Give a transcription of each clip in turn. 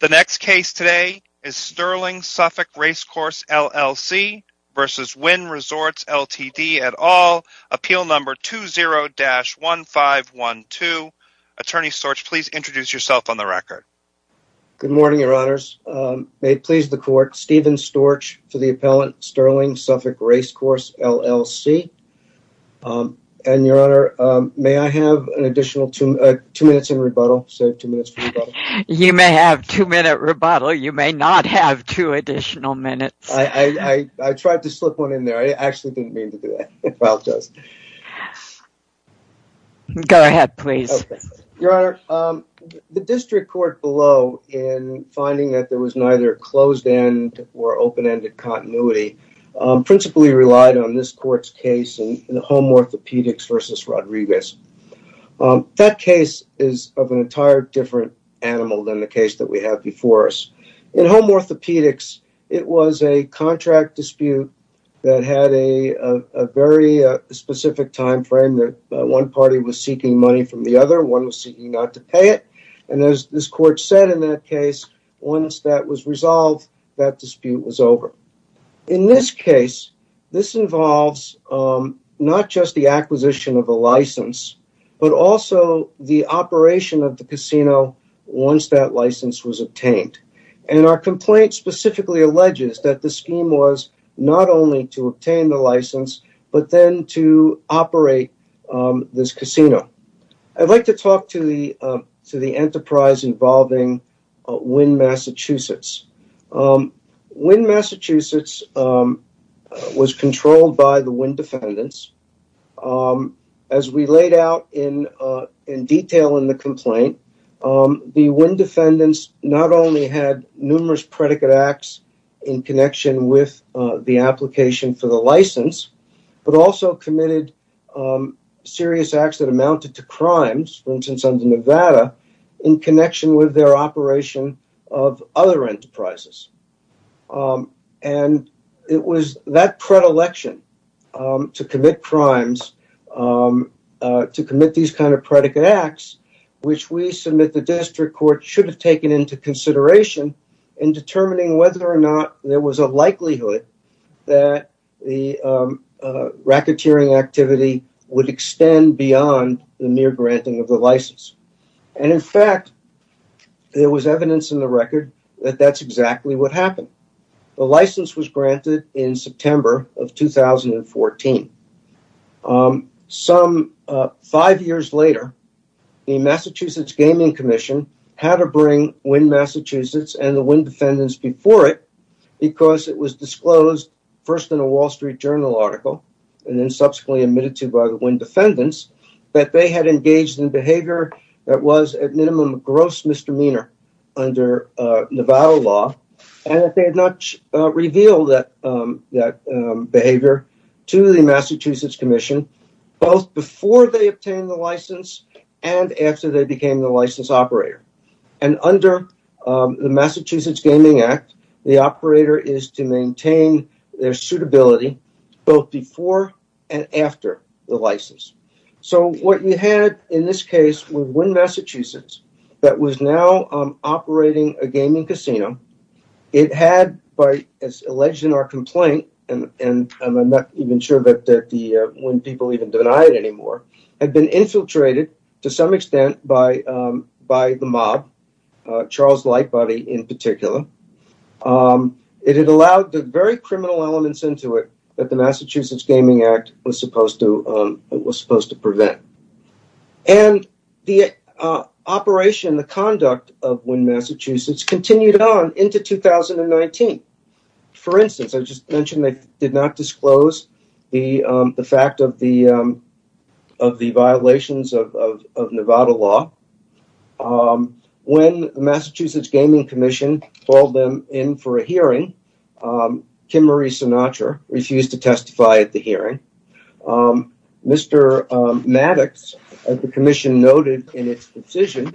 The next case today is Sterling Suffolk Racecourse LLC versus Wynn Resorts, Ltd. at all. Appeal number 20-1512. Attorney Storch, please introduce yourself on the record. Good morning, your honors. May it please the court, Stephen Storch for the appellant Sterling Suffolk Racecourse LLC. And your honor, may I have an additional two minutes in rebuttal? You may have two minute rebuttal. You may not have two additional minutes. I tried to slip one in there. I actually didn't mean to do that. I apologize. Go ahead, please. Your honor, the district court below in finding that there was neither closed-end or open-ended continuity principally relied on this court's case in home orthopedics versus Rodriguez. That case is of an entire different animal than the case that we have before us. In home orthopedics, it was a contract dispute that had a very specific time frame that one party was seeking money from the other. One was seeking not to pay it. And as this court said in that case, once that was resolved, that dispute was over. In this case, this involves not just the acquisition of a license, but also the operation of the casino once that license was obtained. And our complaint specifically alleges that the scheme was not only to obtain the license, but then to operate this casino. I'd like to talk to the enterprise involving Wynn, Massachusetts. Wynn, Massachusetts was controlled by the Wynn defendants. As we laid out in detail in the complaint, the Wynn defendants not only had numerous predicate acts in connection with the application for the license, but also committed serious acts that of other enterprises. And it was that predilection to commit crimes, to commit these kind of predicate acts, which we submit the district court should have taken into consideration in determining whether or not there was a likelihood that the racketeering activity would extend beyond the mere granting of the license. And in fact, there was evidence in the record that that's exactly what happened. The license was granted in September of 2014. Some five years later, the Massachusetts Gaming Commission had to bring Wynn, Massachusetts and the Wynn defendants before it because it was disclosed first in a Wall Street Journal article and then subsequently admitted to by the Wynn defendants that they had engaged in behavior that was at minimum a gross misdemeanor under Nevada law and that they had not revealed that behavior to the Massachusetts Commission, both before they obtained the license and after they became the license operator. And under the Massachusetts Gaming Act, the operator is to maintain their suitability both before and after the license. So what you had in this case was Wynn, Massachusetts that was now operating a gaming casino. It had, as alleged in our complaint, and I'm not even sure that the Wynn people even deny it anymore, had been infiltrated to some extent by the mob, Charles Lightbody in particular. It had allowed the very criminal elements into it that the Massachusetts Gaming Act was supposed to prevent. And the operation, the conduct of Wynn, Massachusetts continued on into 2019. For instance, I just mentioned they did not disclose the fact of the violations of Nevada law. When the Massachusetts Gaming Commission called them in for a hearing, Kim Marie Sinatra refused to testify at the hearing. Mr. Maddox, as the commission noted in its decision,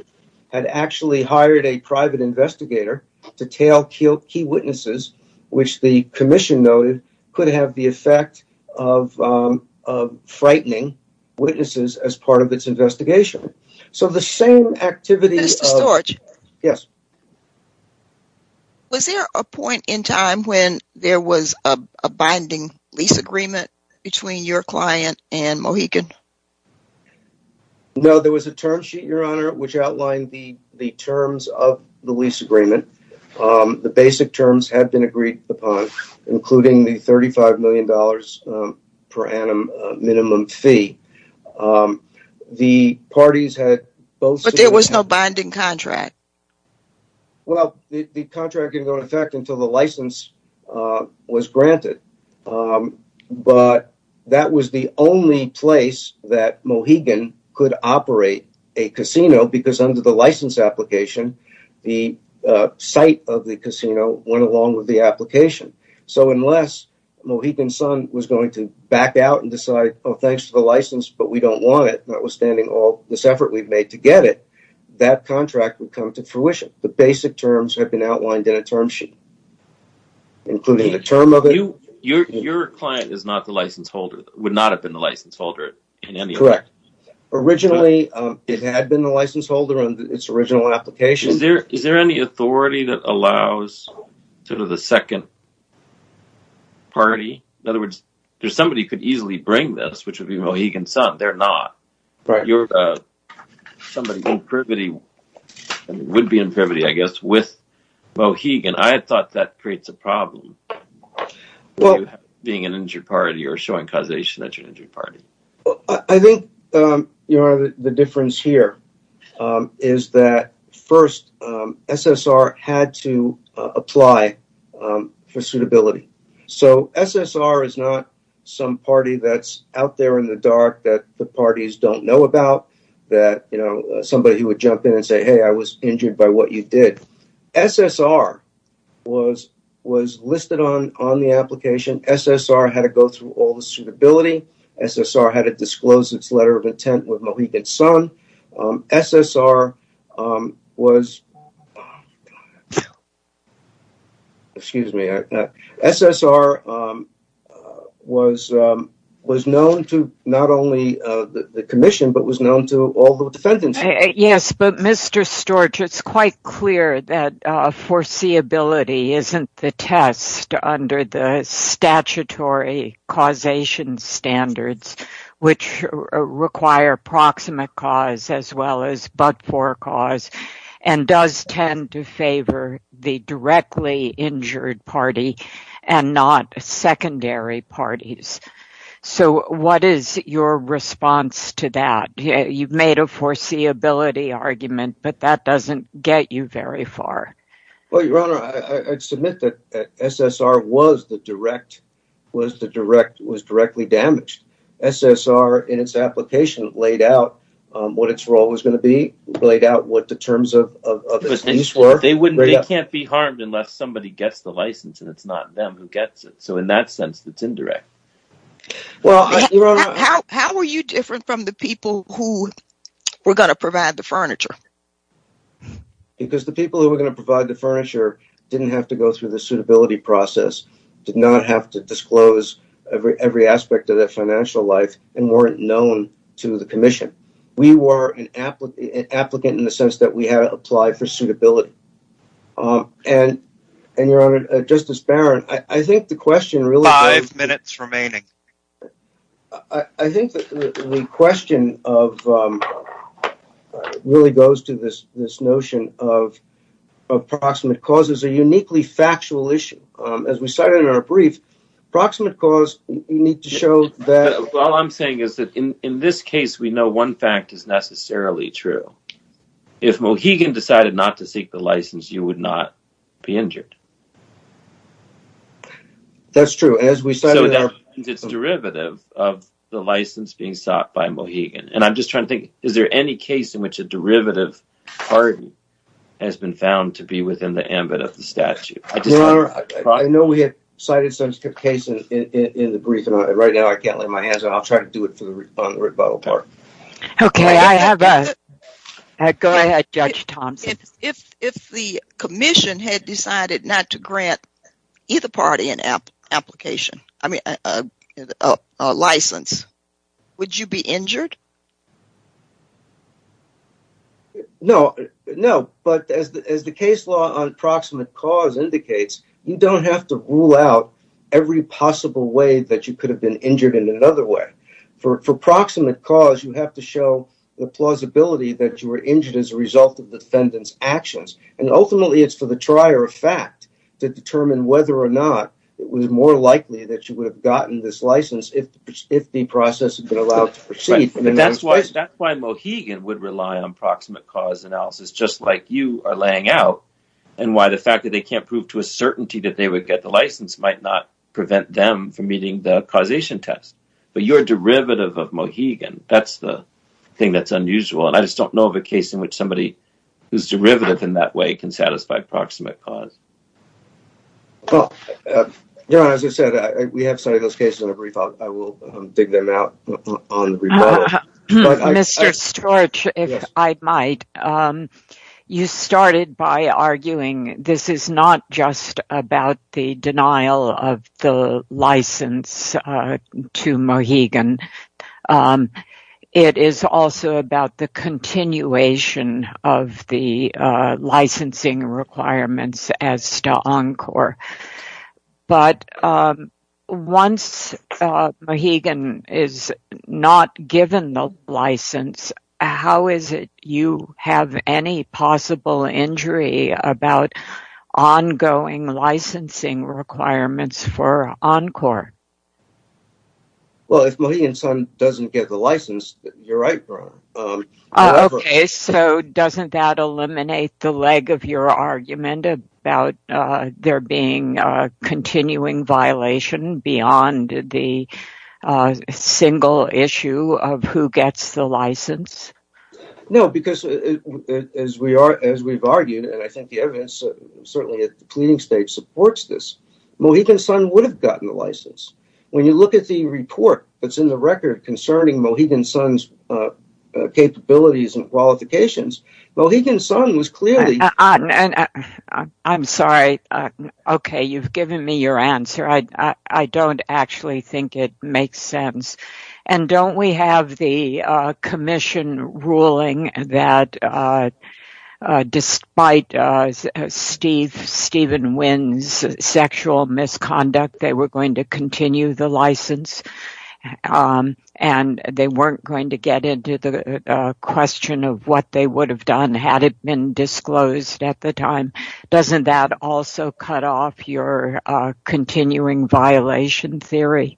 had actually hired a private investigator to tail key witnesses, which the commission noted could have the effect of frightening witnesses as part of its investigation. So the same activity... Mr. Storch? Yes. Was there a point in time when there was a binding lease agreement between your client and Mohegan? No. There was a term sheet, Your Honor, which outlined the terms of the lease agreement. The basic terms had been agreed upon, including the $35 million per annum minimum fee. The parties had both... But there was no binding contract. Well, the contract didn't go into effect until the license was granted. But that was the only place that Mohegan could operate a casino because under the license application, the site of the casino went along with the application. So unless Mohegan's son was going to back out and decide, oh, thanks for the license, but we don't want it, notwithstanding all this effort we've made to get it, that contract would come to fruition. The basic terms had been outlined in a term sheet, including the term of it. Your client is not the license holder, would not have been the license holder in any effect? Correct. Originally, it had been the license holder on its original application. Is there any authority that allows sort of the second party? In other words, somebody could easily bring this, which would be Mohegan's son. They're not. Somebody in privity, would be in privity, I guess, with Mohegan. I thought that creates a problem. Well, being an injured party or showing causation that you're an injured party. I think the difference here is that first, SSR had to apply for suitability. So SSR is not some party that's out there in the dark that the parties don't know about, that somebody who would jump in and say, hey, I was injured by what you did. SSR was listed on the application. SSR had to go through all the suitability. SSR had to disclose its letter of intent with Mohegan's son. SSR was known to not only the commission, but was known to all the defendants. Yes, but Mr. Storch, it's quite clear that foreseeability isn't the test under the statutory causation standards, which require proximate cause as well as but-for cause and does tend to favor the directly injured party and not secondary parties. So what is your response to that? You've made a foreseeability argument, but that doesn't get you very far. Well, Your Honor, I'd submit that SSR was directly damaged. SSR, in its application, laid out what its role was going to be, laid out what the terms of its use were. They can't be harmed unless somebody gets the license and it's not them who gets it. So in that sense, it's indirect. How are you different from the people who were going to provide the furniture? Because the people who were going to provide the furniture didn't have to go through the suitability process, did not have to disclose every aspect of their financial life, and weren't known to the commission. We were an applicant in the sense that we had to apply for suitability. And, Your Honor, Justice Barron, I think the question really goes to this notion of proximate cause as a uniquely factual issue. As we cited in our brief, proximate cause, you need to show that... All I'm saying is that in this case, we know one fact is necessarily true. If Mohegan decided not to seek the license, you would not be injured. That's true. It's derivative of the license being sought by Mohegan. And I'm just trying to think, is there any case in which a derivative pardon has been found to be within the ambit of the statute? I know we had cited such a case in the briefing. Right now, I can't lay my hands on it. I'll try to do it on the rebuttal part. Okay. Go ahead, Judge Thompson. If the commission had decided not to grant either party an application, I mean, a license, would you be injured? No. No. But as the case law on proximate cause indicates, you don't have to rule out every possible way that you could have been injured in another way. For proximate cause, you have to show the plausibility that you were injured as a result of the defendant's actions. And ultimately, it's for the trier of fact to determine whether or not it was more likely that you would have gotten this license if the process had been allowed to proceed. That's why Mohegan would rely on proximate cause analysis, just like you are laying out, and why the fact that they can't prove to a certainty that they would get the license might prevent them from meeting the causation test. But you're a derivative of Mohegan. That's the thing that's unusual. And I just don't know of a case in which somebody who's derivative in that way can satisfy proximate cause. Well, you know, as I said, we have some of those cases in the brief. I will dig them out on the rebuttal. Mr. Storch, if I might. You started by arguing this is not just about the denial of the license to Mohegan. It is also about the continuation of the licensing requirements as to Encore. But once Mohegan is not given the license, how is it you have any possible injury about ongoing licensing requirements for Encore? Well, if Mohegan Sun doesn't get the license, you're right, Bronwyn. Okay, so doesn't that eliminate the leg of your argument about there being a continuing violation beyond the single issue of who gets the license? No, because as we've argued, and I think the evidence certainly at the pleading stage supports this, Mohegan Sun would have gotten the license. When you look at the report that's in the record concerning Mohegan Sun's capabilities and qualifications, Mohegan Sun was clearly... I'm sorry. Okay, you've given me your answer. I don't actually think it makes sense. And don't we have the commission ruling that despite Stephen Wynn's sexual misconduct, they were going to continue the license and they weren't going to get into the question of what they would have done had it been disclosed at the time? Doesn't that also cut off your continuing violation theory?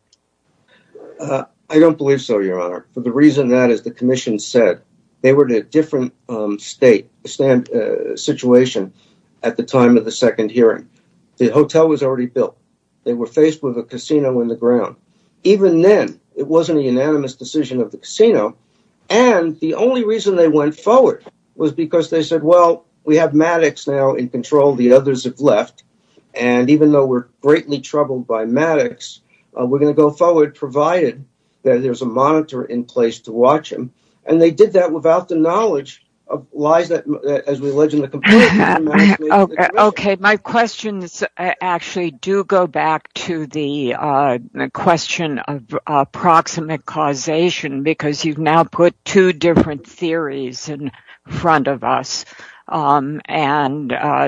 I don't believe so, Your Honor, for the reason that, as the commission said, they were in a different situation at the time of the second hearing. The hotel was already built. They were faced with a casino in the ground. Even then, it wasn't a unanimous decision of the casino. And the only reason they went forward was because they said, well, we have Maddox now in control. The others have left. And even though we're greatly troubled by Maddox, we're going to go forward provided that there's a monitor in place to watch him. And they did that without the knowledge of lies that, as we allege in the complaint... OK. My questions actually do go back to the question of approximate causation, because you've now put two different theories in front of us. And the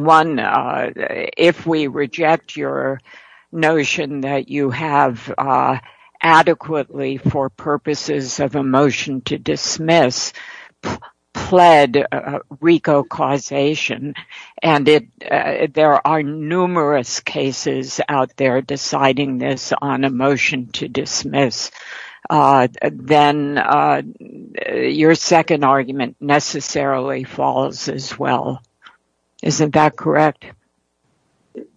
one, if we reject your notion that you have adequately, for purposes of emotion, to dismiss, pled RICO causation, and there are numerous cases out there deciding this on emotion to dismiss, then your second argument necessarily falls as well. Isn't that correct?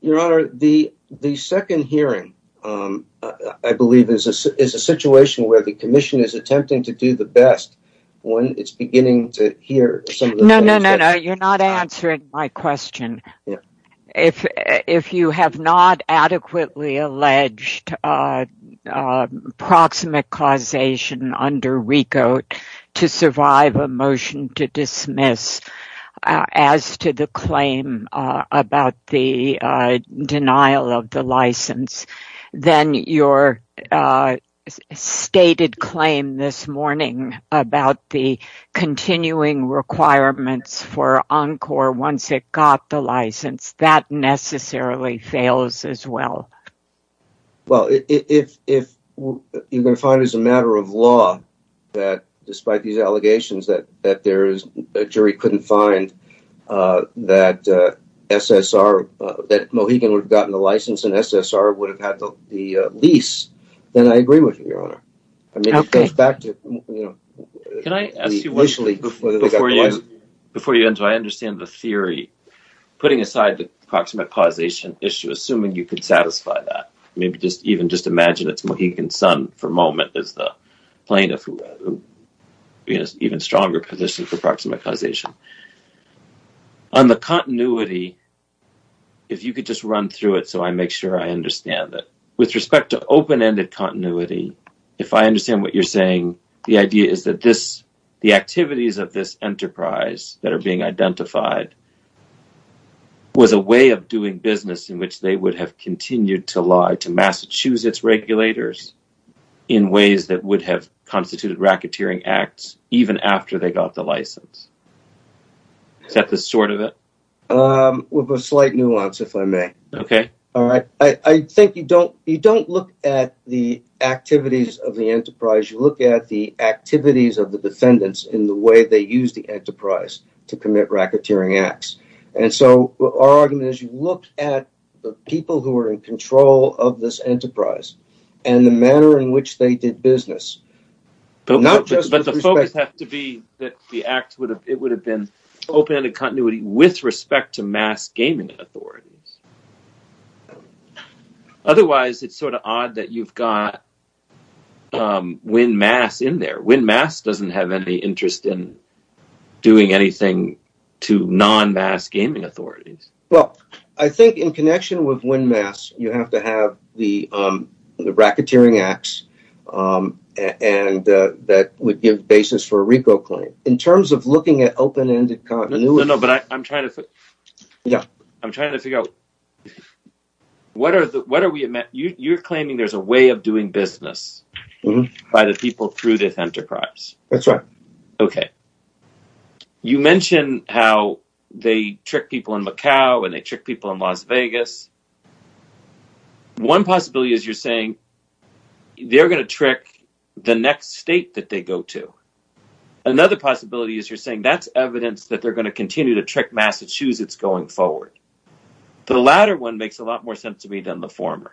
Your Honor, the second hearing, I believe, is a situation where the commission is attempting to do the best when it's beginning to hear some of the... No, no, no, no. You're not answering my question. If you have not adequately alleged approximate causation under RICO to survive a motion to about the continuing requirements for ENCOR once it got the license, that necessarily fails as well. Well, if you're going to find as a matter of law that, despite these allegations, that a jury couldn't find that Mohegan would have gotten the license and SSR would have had the lease, then I agree with you, Your Honor. I mean, it goes back to, you know... Can I ask you, before you end, so I understand the theory, putting aside the approximate causation issue, assuming you could satisfy that, maybe just even just imagine it's Mohegan's son for a moment as the plaintiff who is in an even stronger position for approximate causation. On the continuity, if you could just run through it so I make sure I understand it. With respect to open-ended continuity, if I understand what you're saying, the idea is that the activities of this enterprise that are being identified was a way of doing business in which they would have continued to lie to Massachusetts regulators in ways that would have constituted racketeering acts even after they got the license. Is that the sort of it? With a slight nuance, if I may. Okay. All right. I think you don't look at the activities of the enterprise, you look at the activities of the defendants in the way they use the enterprise to commit racketeering acts. And so our argument is you look at the people who are in control of this enterprise and the manner in which they did business. Not just... But the focus has to be that the act would have been open-ended continuity with respect to mass gaming authorities. Otherwise, it's sort of odd that you've got WinMass in there. WinMass doesn't have any interest in doing anything to non-mass gaming authorities. Well, I think in connection with WinMass, you have to have the racketeering acts and that would give basis for a RICO claim. In terms of looking at open-ended continuity... No, no, but I'm trying to figure out... What are the... You're claiming there's a way of doing business by the people through this enterprise. That's right. Okay. You mentioned how they trick people in Macau and they trick people in Las Vegas. One possibility is you're saying they're going to trick the next state that they go to. Another possibility is you're saying that's evidence that they're going to continue to trick Massachusetts going forward. The latter one makes a lot more sense to me than the former.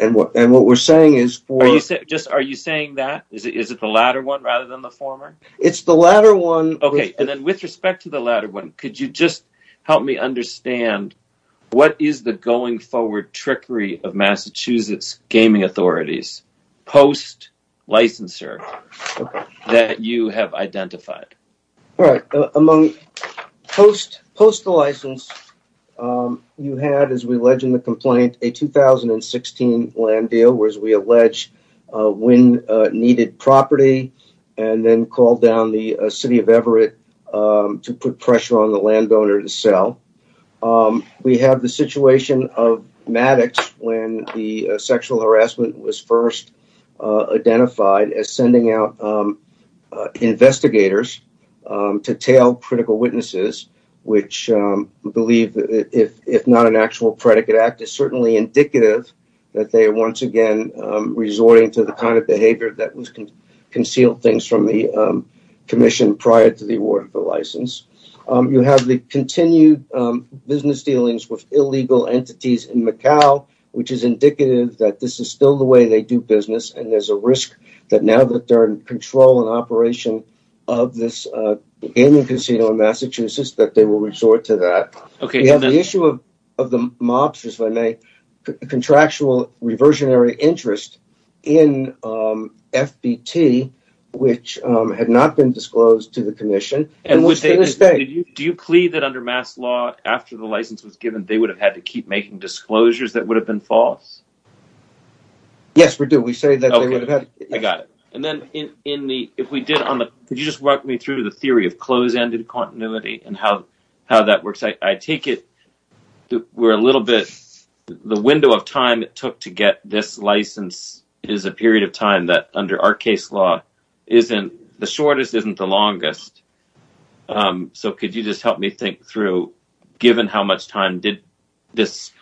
And what we're saying is... Are you saying that? Is it the latter one rather than the former? It's the latter one. Okay, and then with respect to the latter one, could you just help me understand what is the going forward trickery of Massachusetts gaming authorities post-licensure that you have identified? All right. Among post-license, you had, as we allege in the complaint, a 2016 land deal, whereas we allege Wynn needed property and then called down the city of Everett to put pressure on the landowner to sell. We have the situation of Maddox when the sexual harassment was first identified as sending out investigators to tail critical witnesses, which we believe, if not an actual predicate act, is certainly indicative that they are once again resorting to the kind of behavior that was concealed things from the commission prior to the award for license. You have the continued business dealings with illegal entities in Macau, which is indicative that this is still the way they do business, and there's a risk that now that they're in control and operation of this gaming casino in Massachusetts, that they will resort to that. Okay. You have the issue of the mobsters, if I may, contractual reversionary interest in FBT, which had not been disclosed to the commission. Do you plead that under mass law, after the license was given, they would have had to keep making disclosures that would have been false? Yes, we do. Okay, I got it. And then, if we did on the... Could you just walk me through the theory of close-ended continuity and how that works? I take it that we're a little bit... The window of time it took to get this license is a period of time that, under our case law, the shortest isn't the longest. So, could you just help me think through, given how much time did this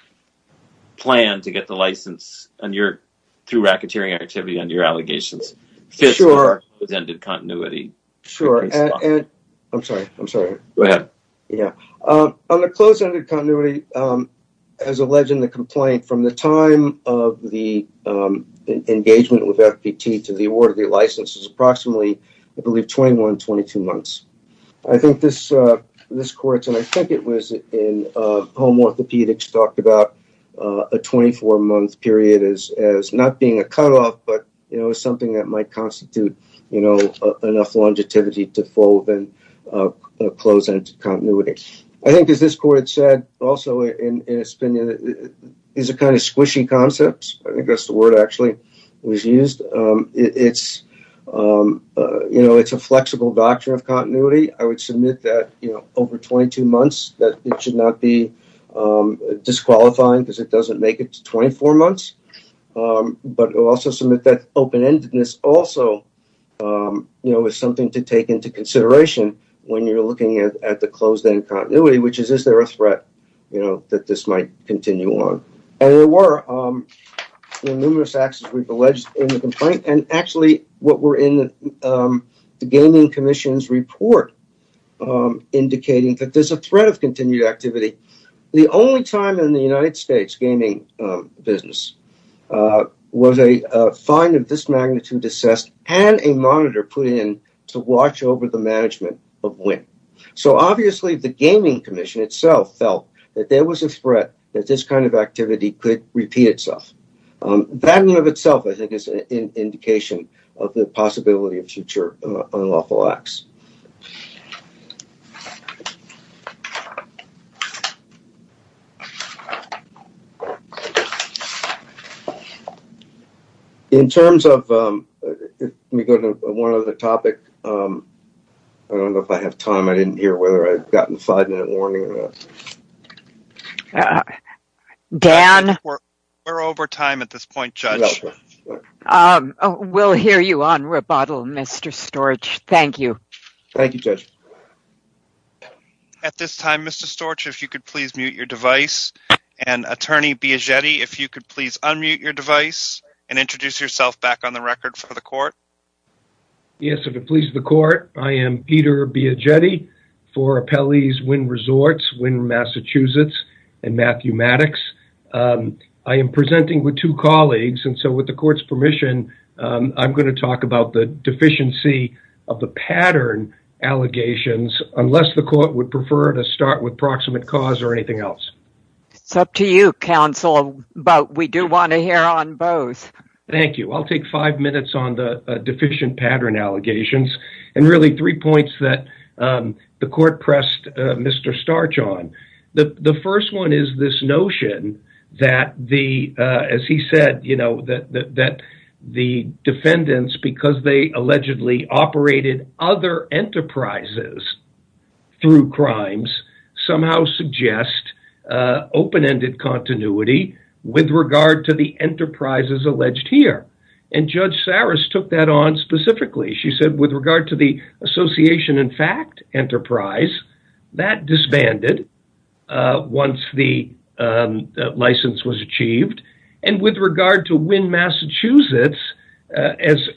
plan to get the license through racketeering activity under your allegations? Sure. If it was ended continuity. I'm sorry. I'm sorry. Go ahead. Yeah. On the close-ended continuity, as alleged in the complaint, from the time of the engagement with FBT to the award of the license is approximately, I believe, 21-22 months. I think this court, and I think it was in home orthopedics, talked about a 24-month period as not being a cutoff, but as something that might constitute enough longevity to fold and close-ended continuity. I think, as this court said, also, in its opinion, it's a kind of squishy concept. I think that's the word, actually, that was used. It's a flexible doctrine of continuity. I would submit that over 22 months, that it should not be disqualifying because it doesn't make it to 24 months, but I would also submit that open-endedness also is something to take into consideration when you're looking at the closed-end continuity, which is, is there a threat that this might continue on? There were numerous acts, as we've alleged, in the complaint. Actually, what were in the Gaming Commission's report indicating that there's a threat of continued activity. The only time in the United States gaming business was a fine of this magnitude assessed and a monitor put in to watch over the management of wind. Obviously, the Gaming Commission itself felt that there was a threat that this kind of activity could repeat itself. That in and of itself, I think, is an indication of the possibility of future unlawful acts. In terms of, let me go to one other topic. I don't know if I have time. I didn't hear whether I've gotten a five-minute warning or not. Dan? We're over time at this point, Judge. We'll hear you on rebuttal, Mr. Storch. Thank you. Thank you, Judge. At this time, Mr. Storch, if you could please mute your device. Attorney Biagetti, if you could please unmute your device and introduce yourself back on the record for the court. Yes, if it pleases the court, I am Peter Biagetti for Appellee's Wind Resorts, Wind, Massachusetts and Mathematics. I am presenting with two colleagues, and so with the court's permission, I'm going to unless the court would prefer to start with proximate cause or anything else. It's up to you, counsel, but we do want to hear on both. Thank you. I'll take five minutes on the deficient pattern allegations and really three points that the court pressed Mr. Storch on. The first one is this notion that, as he said, that the defendants, because they allegedly operated other enterprises through crimes, somehow suggest open-ended continuity with regard to the enterprises alleged here. And Judge Saris took that on specifically. She said, with regard to the association in fact enterprise, that disbanded once the Massachusetts, as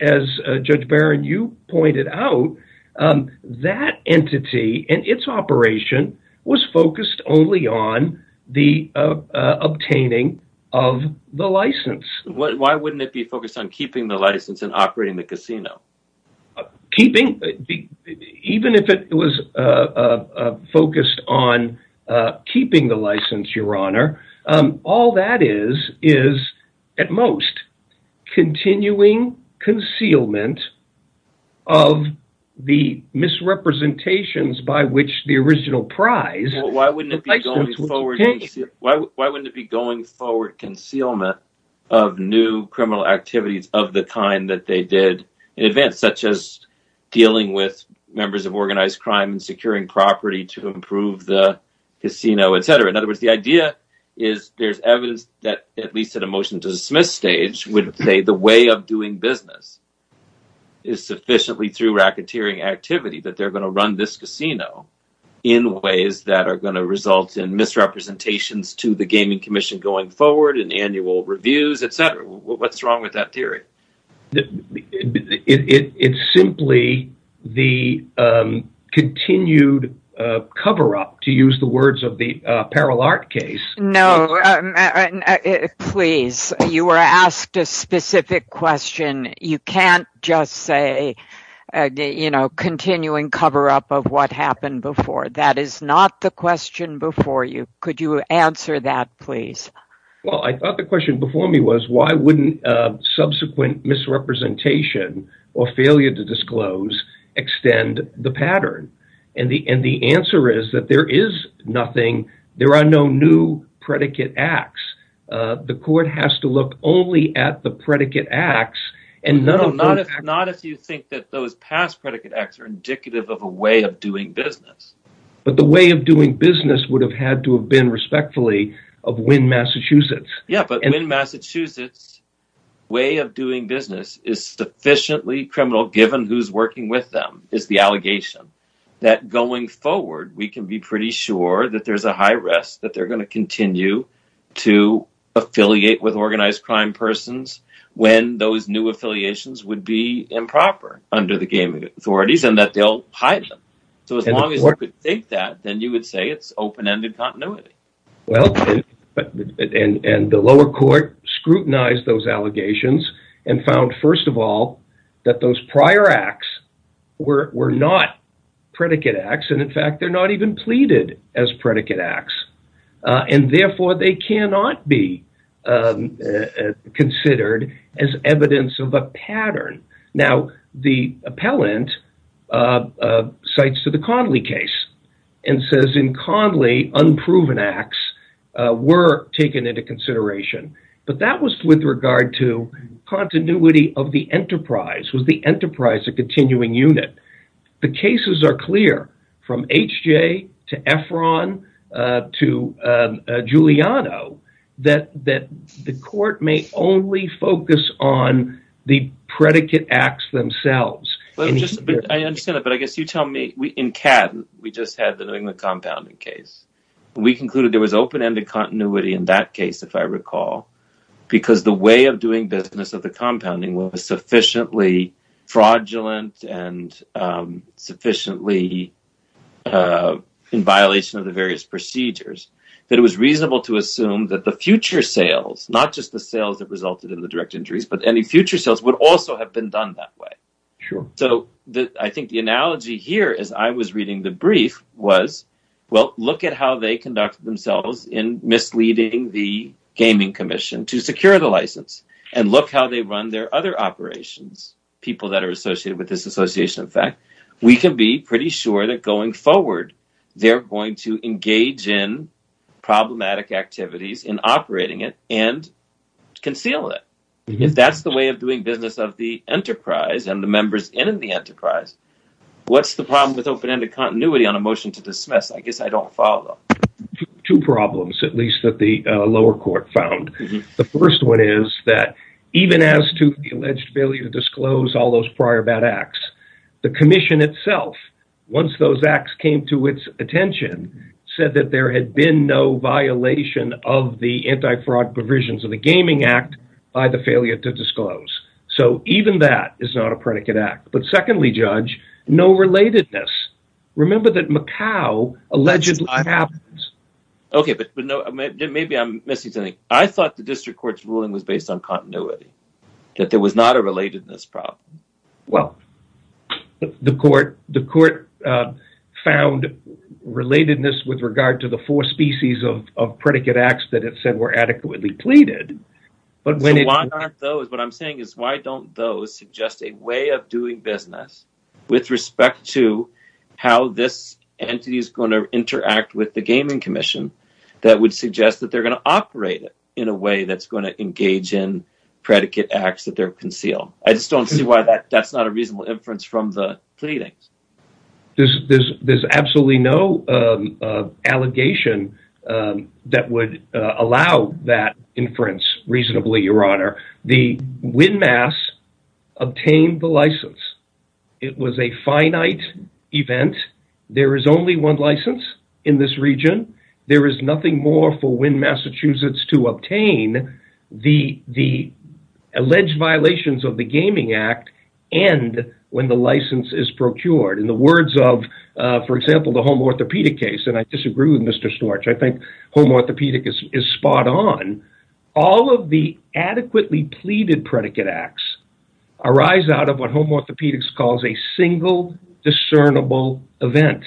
Judge Barron, you pointed out, that entity and its operation was focused only on the obtaining of the license. Why wouldn't it be focused on keeping the license and operating the casino? Even if it was focused on keeping the license, Your Honor, all that is is at most continuing concealment of the misrepresentations by which the original prize. Why wouldn't it be going forward concealment of new criminal activities of the kind that they did in advance, such as dealing with members of organized crime and securing property to improve the casino, etc.? The idea is there's evidence that, at least at a motion to dismiss stage, would say the way of doing business is sufficiently through racketeering activity that they're going to run this casino in ways that are going to result in misrepresentations to the Gaming Commission going forward and annual reviews, etc. What's wrong with that theory? It's simply the continued cover-up, to use the words of the Perel Art case. No, please. You were asked a specific question. You can't just say continuing cover-up of what happened before. That is not the question before you. Could you answer that, please? I thought the question before me was, why wouldn't subsequent misrepresentation or failure to disclose extend the pattern? The answer is that there is nothing. There are no new predicate acts. The court has to look only at the predicate acts. Not if you think that those past predicate acts are indicative of a way of doing business. The way of doing business would have had to have been respectfully of Wynn, Massachusetts. Yes, but Wynn, Massachusetts' way of doing business is sufficiently criminal, given who's working with them, is the allegation that going forward, we can be pretty sure that there's a high risk that they're going to continue to affiliate with organized crime persons when those new affiliations would be improper under the gaming authorities and that they'll hide them. As long as you could think that, then you would say it's open-ended continuity. The lower court scrutinized those allegations and found, first of all, that those prior acts were not predicate acts. In fact, they're not even pleaded as predicate acts. Therefore, they cannot be considered as evidence of a pattern. The appellant cites to the Conley case and says in Conley, unproven acts were taken into consideration, but that was with regard to continuity of the enterprise, was the enterprise a continuing unit. The cases are clear from HJ to Efron to Giuliano that the court may only focus on the predicate acts themselves. I understand that, but I guess you tell me. In CAD, we just had the New England compounding case. We concluded there was open-ended continuity in that case, if I recall, because the way of doing business of the compounding was sufficiently fraudulent and sufficiently in violation of the various procedures that it was reasonable to assume that the future sales, not just the sales that resulted in the direct injuries, but any future sales would also have been done that way. I think the analogy here as I was reading the brief was, look at how they conducted themselves in misleading the gaming commission to secure the license and look how they run their other operations, people that are associated with this association. In fact, we can be pretty sure that going forward, they're going to engage in problematic activities in operating it and conceal it. That's the way of doing business of the enterprise and the members in the enterprise. What's the problem with open-ended continuity on a motion to dismiss? I guess I don't follow. Two problems, at least, that the lower court found. The first one is that even as to the alleged failure to disclose all those prior bad acts, the commission itself, once those acts came to its attention, said that there had been no violation of the anti-fraud provisions of the Gaming Act by the failure to disclose. Even that is not a predicate act. Secondly, Judge, no relatedness. Remember that Macau allegedly happens. Jay Famiglietti Okay, but maybe I'm missing something. I thought the district court's ruling was based on continuity, that there was not a relatedness problem. Well, the court found relatedness with regard to the four species of predicate acts that it said were adequately pleaded, but when it Jay Famiglietti What I'm saying is, why don't those suggest a way of doing business with respect to how this entity is going to interact with the Gaming Commission that would suggest that they're going to operate it in a way that's going to engage in predicate acts that they'll conceal? I just don't see why that's not a reasonable inference from the pleadings. Jay Famiglietti There's absolutely no allegation that would allow that inference reasonably, Your Honor. The Windmass obtained the license. It was a finite event. There is only one license in this region. There is nothing more for Wind, Massachusetts to obtain. The alleged violations of the Gaming Act end when the license is procured. In the words of, for example, the home orthopedic case, and I disagree with Mr. Storch, I think home orthopedic is spot on. All of the adequately pleaded predicate acts arise out of what home orthopedics calls a single discernible event.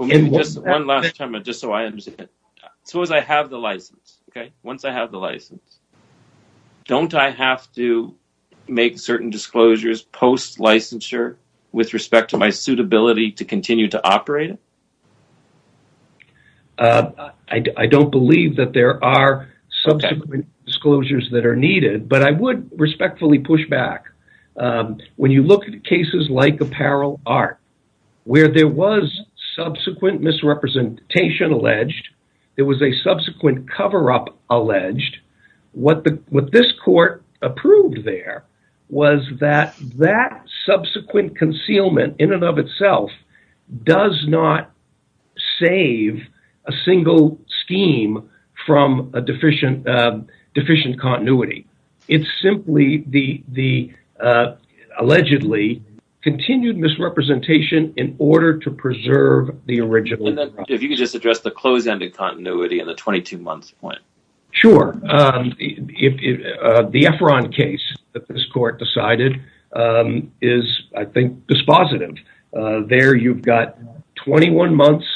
Jay Famiglietti Suppose I have the license. Once I have the license, don't I have to make certain disclosures post-licensure with respect to my suitability to continue to operate it? Jay Famiglietti I don't believe that there are subsequent disclosures that are needed, but I would subsequent misrepresentation alleged. It was a subsequent cover-up alleged. What this court approved there was that that subsequent concealment in and of itself does not save a single scheme from a deficient continuity. It's simply the allegedly continued misrepresentation in order to preserve the original. Jay Famiglietti If you could just address the closed-ended continuity and the 22-month point. Jay Famiglietti Sure. The Efron case that this court decided is, I think, dispositive. There you've got 21 months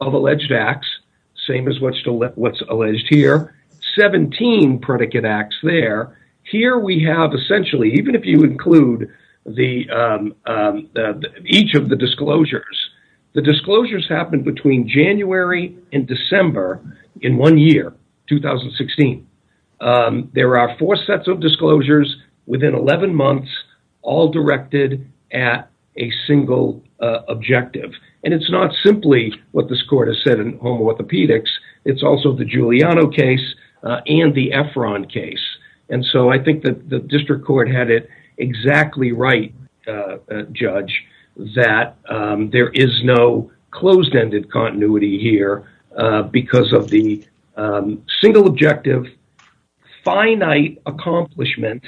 of alleged acts, same as what's alleged here, 17 predicate acts there. Here we have, essentially, even if you include each of the disclosures, the disclosures happened between January and December in one year, 2016. There are four sets of disclosures within 11 months, all directed at a single objective. It's not simply what this court has said in home orthopedics. It's also the Giuliano case and the Efron case. I think the district court had it exactly right, Judge, that there is no closed-ended continuity here because of the single objective, finite accomplishment,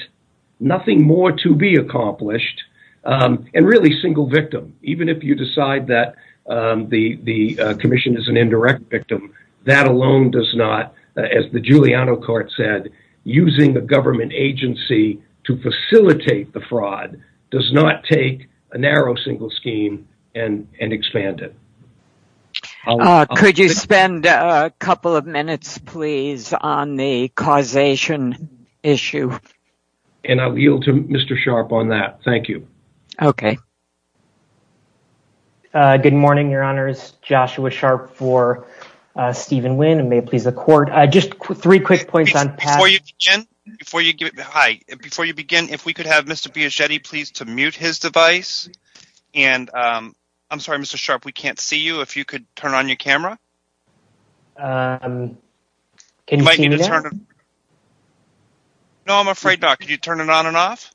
nothing more to be accomplished, and really single victim. Even if you decide that the commission is an indirect victim, that alone does not, as the Giuliano court said, using a government agency to facilitate the fraud does not take a narrow single scheme and expand it. Judge Cardone Could you spend a couple of minutes, please, on the causation issue? Jay Famiglietti I'll yield to Mr. Sharpe on that. Thank you. Judge Cardone Okay. Joshua Sharpe Good morning, Your Honors. Joshua Sharpe for Stephen Wynn. May it please the court. Just three quick points on past— Judge Cardone Before you begin, if we could have Mr. Biagetti, please, to mute his device. And I'm sorry, Mr. Sharpe, we can't see you. If you could turn on your camera. Joshua Sharpe Can you see me now? Judge Cardone No, I'm afraid not. Could you turn it on and off?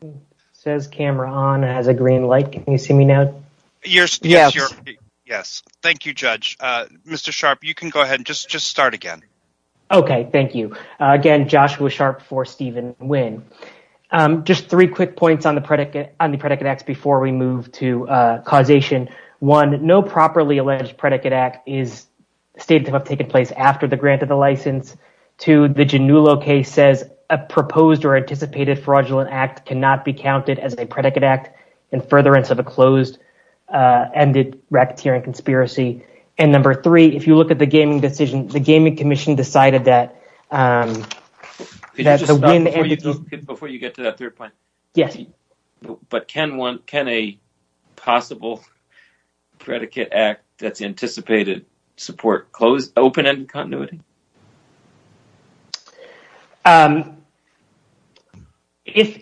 Joshua Sharpe Says camera on, has a green light. Can you see me now? Judge Cardone Yes. Thank you, Judge. Mr. Sharpe, you can go ahead and just start again. Joshua Sharpe Okay. Thank you. Again, Joshua Sharpe for Stephen Wynn. Just three quick points on the predicate acts before we move to causation. One, no properly alleged predicate act is stated to have taken place after the grant of the license. Two, the Giannullo case says a proposed or anticipated fraudulent act cannot be counted as a predicate act in furtherance of a closed-ended racketeering conspiracy. And number three, if you look at the gaming decision, the Gaming Commission decided that— Judge Cardone Before you get to that third point. Joshua Sharpe Yes. Judge Cardone But can a possible predicate act that's anticipated support open-ended continuity? Joshua Sharpe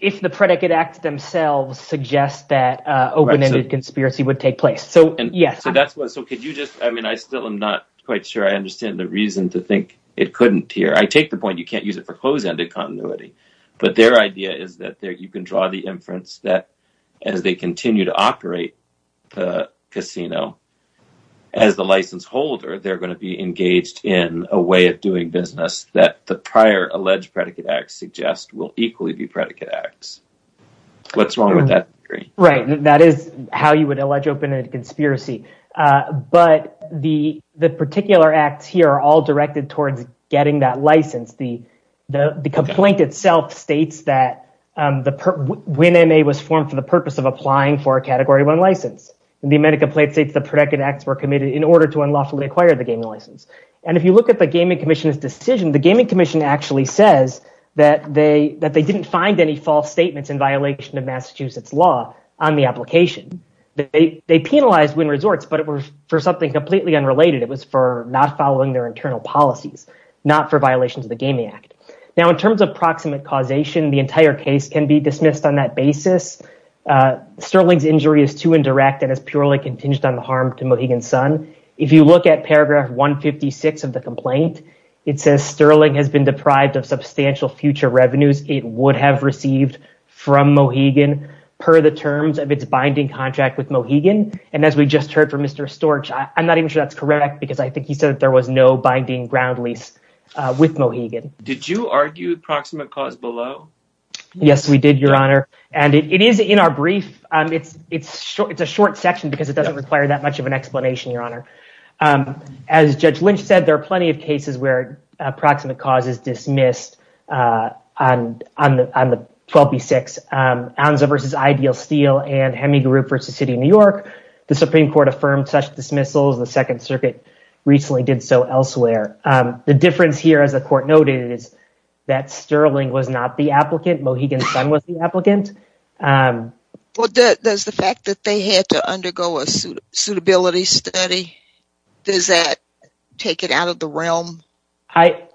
If the predicate acts themselves suggest that open-ended conspiracy would take place. So, yes. Stephen Wynn So, could you just—I mean, I still am not quite sure I understand the reason to think it couldn't here. I take the point you can't use it for closed-ended continuity, but their idea is that you can draw the inference that as they continue to operate the casino as the license holder, they're going to be engaged in a way of doing business that the prior alleged predicate acts suggest will equally be predicate acts. What's wrong with that? Joshua Sharpe Right. That is how you would allege open-ended conspiracy. But the particular acts here are all directed towards getting that license. The complaint itself states that Wynn MA was formed for the purpose of applying for a category one license. The amended complaint states the predicate acts were committed in order to unlawfully acquire the gaming license. If you look at the Gaming Commission's decision, the Gaming Commission actually says that they didn't find any false statements in violation of Massachusetts law on the application. They penalized Wynn Resorts, but it was for something completely unrelated. It was for not following their internal policies, not for violations of the Gaming Act. Now, in terms of proximate causation, the entire case can be dismissed on that basis. Sterling's injury is too indirect and is purely contingent on the harm to Mohegan Sun. If you look at paragraph 156 of the complaint, it says Sterling has been deprived of substantial future revenues it would have received from Mohegan per the terms of its binding contract with Mohegan. And as we just heard from Mr. Storch, I'm not even sure that's correct because I think he said that there was no binding ground lease with Mohegan. Amit Bhandari Did you argue proximate cause below? Joshua Sharpe Yes, we did, Your Honor. And it is in our brief. It's a short section because it doesn't require that much of an explanation, Your Honor. And as Judge Lynch said, there are plenty of cases where approximate cause is dismissed on the 12b-6, Onza v. Ideal Steel and Heming Group v. City of New York. The Supreme Court affirmed such dismissals. The Second Circuit recently did so elsewhere. The difference here, as the Court noted, is that Sterling was not the applicant. Mohegan Sun was the applicant. Amit Bhandari Well, does the fact that they had to undergo a suitability study, does that take it out of the realm? Joshua Sharpe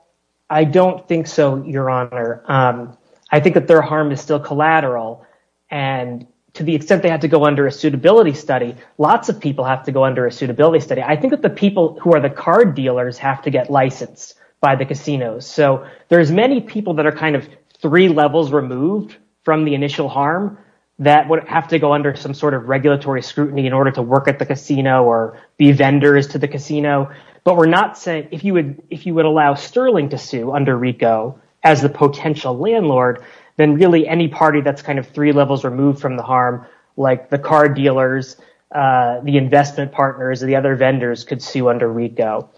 I don't think so, Your Honor. I think that their harm is still collateral. And to the extent they had to go under a suitability study, lots of people have to go under a suitability study. I think that the people who are the card dealers have to get licensed by the casinos. So there's many people that are kind of three levels removed from the initial harm that would have to go under some sort of regulatory scrutiny in order to work at the casino or be vendors to the casino. But we're not saying if you would allow Sterling to sue under RICO as the potential landlord, then really any party that's kind of three levels removed from the harm, like the car dealers, the investment partners, the other vendors could sue under RICO.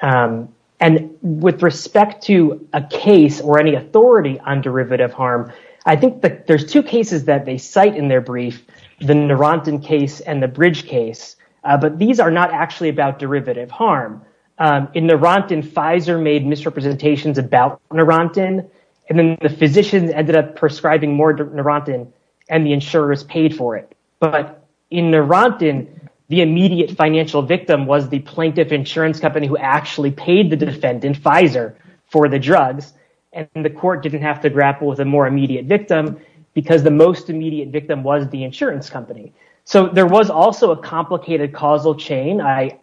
And with respect to a case or any authority on derivative harm, I think there's two cases that they cite in their brief, the Narantan case and the Bridge case. But these are not actually about derivative harm. In Narantan, Pfizer made misrepresentations about Narantan, and then the physicians ended up prescribing more Narantan, and the insurers paid for it. But in Narantan, the immediate financial victim was the plaintiff insurance company who actually paid the defendant, Pfizer, for the drugs. And the court didn't have to grapple with a more immediate victim because the most immediate victim was the insurance company. So there was also a complicated causal chain, I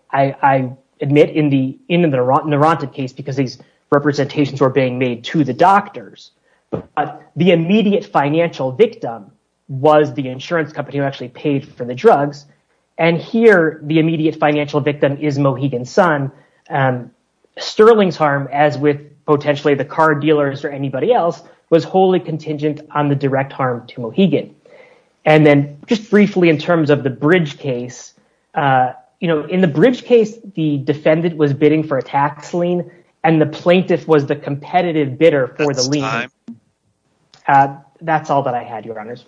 admit, in the Narantan case because these representations were being made to the doctors. But the immediate financial victim was the insurance company who actually paid for the drugs. And here, the immediate financial victim is Mohegan Sun. Sterling's harm, as with potentially the car dealers or anybody else, was wholly contingent on the direct harm to Mohegan. And then just briefly in terms of the Bridge case, in the Bridge case, the defendant was bidding for a tax lien, and the plaintiff was the competitive bidder for the lien. So, that's all that I had, Your Honors.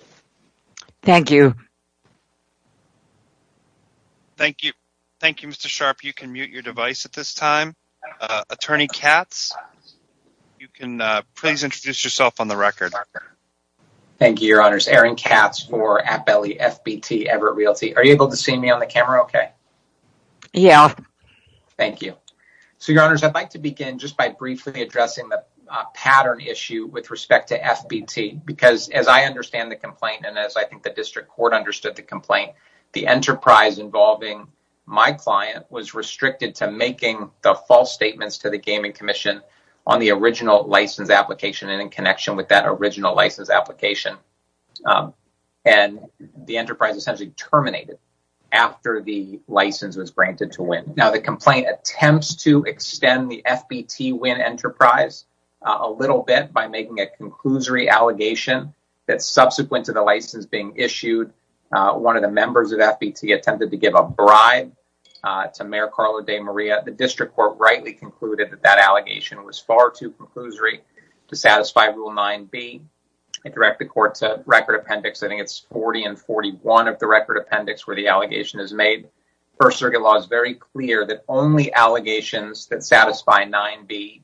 Thank you. Thank you. Thank you, Mr. Sharp. You can mute your device at this time. Attorney Katz, please introduce yourself on the record. Thank you, Your Honors. Aaron Katz for at Appellee FBT, Everett Realty. Are you able to see me on the camera okay? Yeah. So, Your Honors, I'd like to begin just by briefly addressing the pattern issue that we have with respect to FBT. Because as I understand the complaint, and as I think the District Court understood the complaint, the enterprise involving my client was restricted to making the false statements to the Gaming Commission on the original license application and in connection with that original license application. And the enterprise essentially terminated after the license was granted to Wynn. Now, the complaint attempts to extend the FBT-Wynn enterprise a little bit by making a conclusory allegation that subsequent to the license being issued, one of the members of FBT attempted to give a bribe to Mayor Carlo De Maria. The District Court rightly concluded that that allegation was far too conclusory to satisfy Rule 9b. I direct the Court to Record Appendix, I think it's 40 and 41 of the Record Appendix, where the allegation is made. First Circuit law is very clear that only allegations that satisfy 9b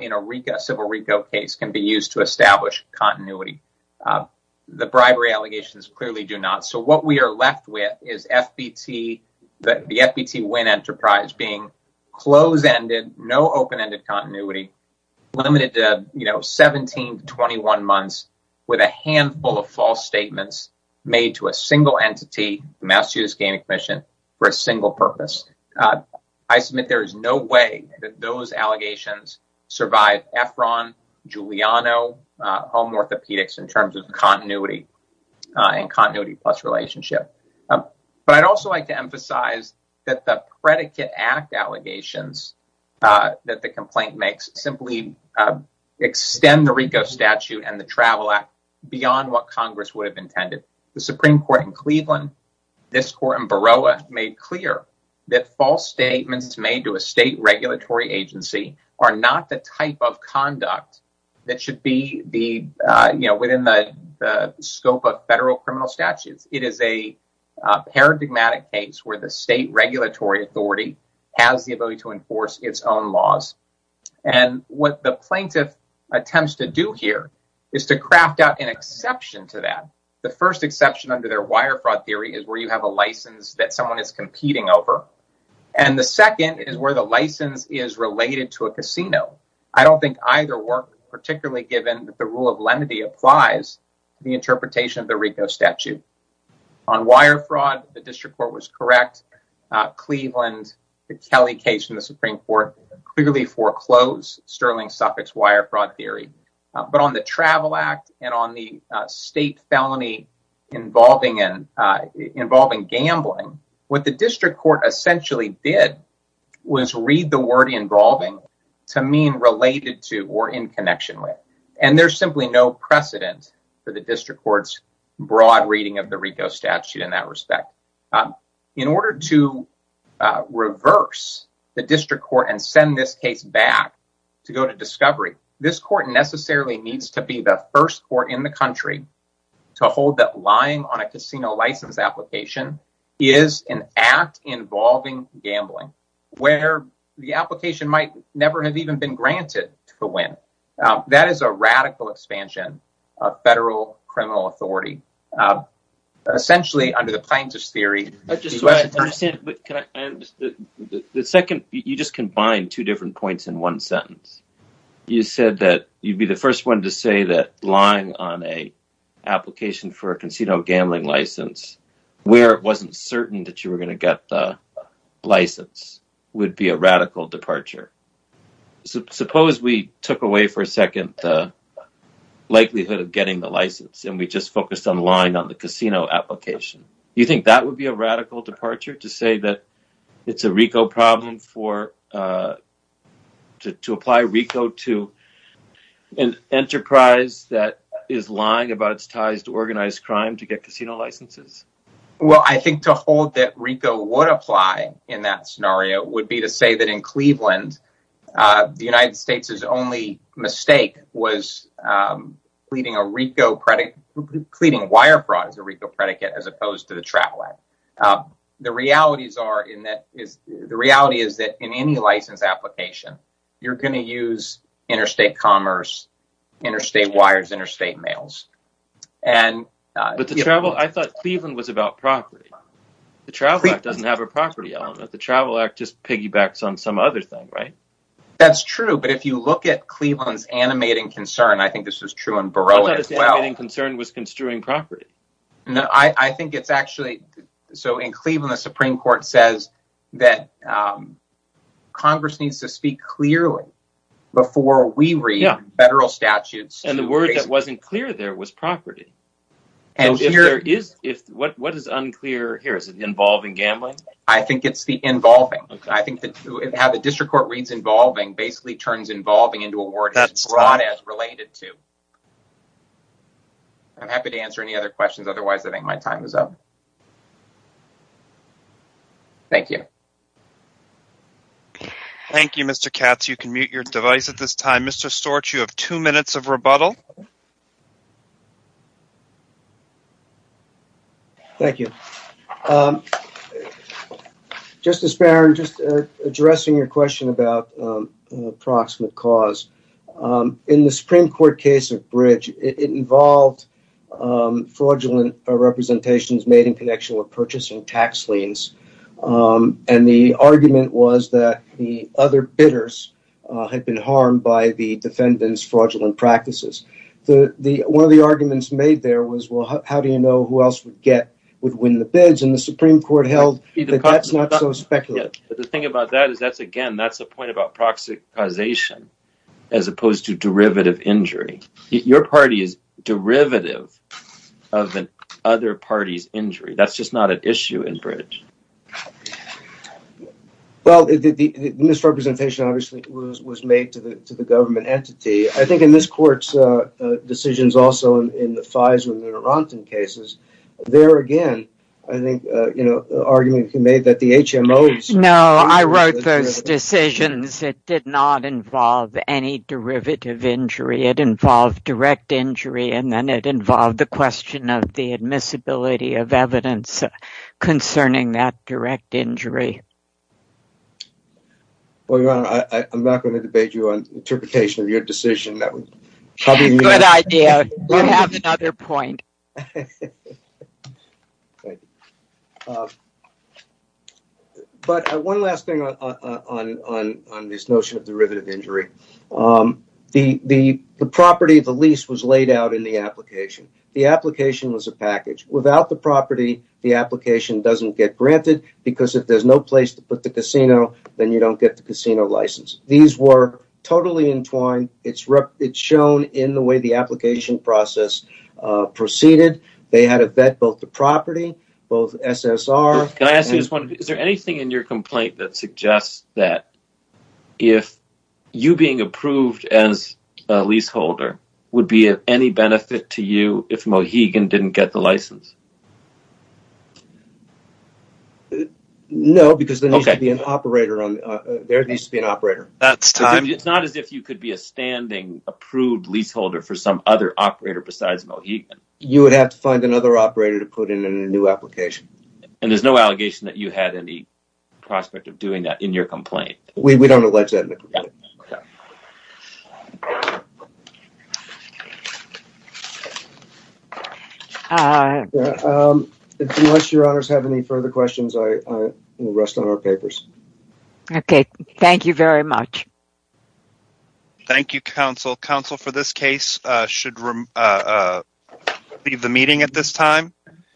in a RICO, civil RICO case can be used to establish continuity. The bribery allegations clearly do not. So, what we are left with is FBT, the FBT-Wynn enterprise being closed-ended, no open-ended continuity, limited to 17 to 21 months with a handful of false statements made to a single entity, the Massachusetts Gaming Commission, for a single purpose. I submit there is no way that those allegations survive Efron, Giuliano, home orthopedics in terms of continuity and continuity plus relationship. But I'd also like to emphasize that the Predicate Act allegations that the complaint makes simply extend the RICO statute and the Travel Act beyond what Congress would have intended. The Supreme Court in Cleveland, this Court in Baroa, made clear that false statements made to a state regulatory agency are not the type of conduct that should be within the scope of federal criminal statutes. It is a paradigmatic case where the state regulatory authority has the ability to enforce its own laws. And what the plaintiff attempts to do here is to craft out an exception to that. The first exception under their wire fraud theory is where you have a license that someone is competing over. And the second is where the license is related to a casino. I don't think either work, particularly given that the rule of lenity applies to the interpretation of the RICO statute. On wire fraud, the District Court was correct. Cleveland, the Kelly case in the Supreme Court, clearly foreclosed Sterling Suffolk's wire fraud theory. But on the Travel Act and on the state felony involving gambling, what the District Court essentially did was read the word involving to mean related to or in connection with. And there's simply no precedent for the District Court's broad reading of the RICO statute in that respect. In order to reverse the District Court and send this case back to go to discovery, this necessarily needs to be the first court in the country to hold that lying on a casino license application is an act involving gambling, where the application might never have even been granted to win. That is a radical expansion of federal criminal authority, essentially under the plaintiff's theory. The second, you just combined two different points in one sentence. You said that you'd be the first one to say that lying on an application for a casino gambling license where it wasn't certain that you were going to get the license would be a radical departure. Suppose we took away for a second the likelihood of getting the license and we just focused on lying on the casino application. You think that would be a radical departure to say that it's a RICO problem to apply RICO to an enterprise that is lying about its ties to organized crime to get casino licenses? Well, I think to hold that RICO would apply in that scenario would be to say that in Cleveland, the United States' only mistake was pleading wire fraud as a RICO predicate, as opposed to the Travel Act. The reality is that in any license application, you're going to use interstate commerce, interstate wires, interstate mails. I thought Cleveland was about property. The Travel Act doesn't have a property element. The Travel Act just piggybacks on some other thing, right? That's true, but if you look at Cleveland's animating concern, I think this is true in Baroah as well. I thought its animating concern was construing property. I think it's actually so in Cleveland, the Supreme Court says that Congress needs to speak clearly before we read federal statutes. And the word that wasn't clear there was property. What is unclear here? Is it involving gambling? I think it's the involving. I think that how the district court reads involving basically turns involving into a word as broad as related to. I'm happy to answer any other questions. Otherwise, I think my time is up. Thank you. Thank you, Mr. Katz. You can mute your device at this time. Mr. Storch, you have two minutes of rebuttal. Thank you. Justice Barron, just addressing your question about an approximate cause. In the Supreme Court case of Bridge, it involved fraudulent representations made in connection with purchasing tax liens. And the argument was that the other bidders had been harmed by the defendant's fraudulent practices. One of the arguments made there was, well, how do you know who else would get, would win the bids? And the Supreme Court held that that's not so speculative. The thing about that is that's, again, that's the point about proxy causation as opposed to derivative injury. Your party is derivative of an other party's injury. That's just not an issue in Bridge. Well, the misrepresentation obviously was made to the government entity. I think in this court's decisions, also in the FISA cases, there again, I think, you made that the HMOs... No, I wrote those decisions. It did not involve any derivative injury. It involved direct injury, and then it involved the question of the admissibility of evidence concerning that direct injury. Well, Your Honor, I'm not going to debate you on interpretation of your decision. Good idea. You have another point. But one last thing on this notion of derivative injury. The property of the lease was laid out in the application. The application was a package. Without the property, the application doesn't get granted because if there's no place to put the casino, then you don't get the casino license. These were totally entwined. It's shown in the way the application process proceeded. They had to vet both the property, both SSR... Is there anything in your complaint that suggests that if you being approved as a leaseholder would be of any benefit to you if Mohegan didn't get the license? No, because there needs to be an operator. It's not as if you could be a standing approved leaseholder for some other operator besides Mohegan. You would have to find another operator to put in a new application. And there's no allegation that you had any prospect of doing that in your complaint? We don't allege that in the complaint. Unless your honors have any further questions, I will rest on our papers. Okay. Thank you very much. Thank you, counsel. Counsel, for this case, should leave the meeting at this time.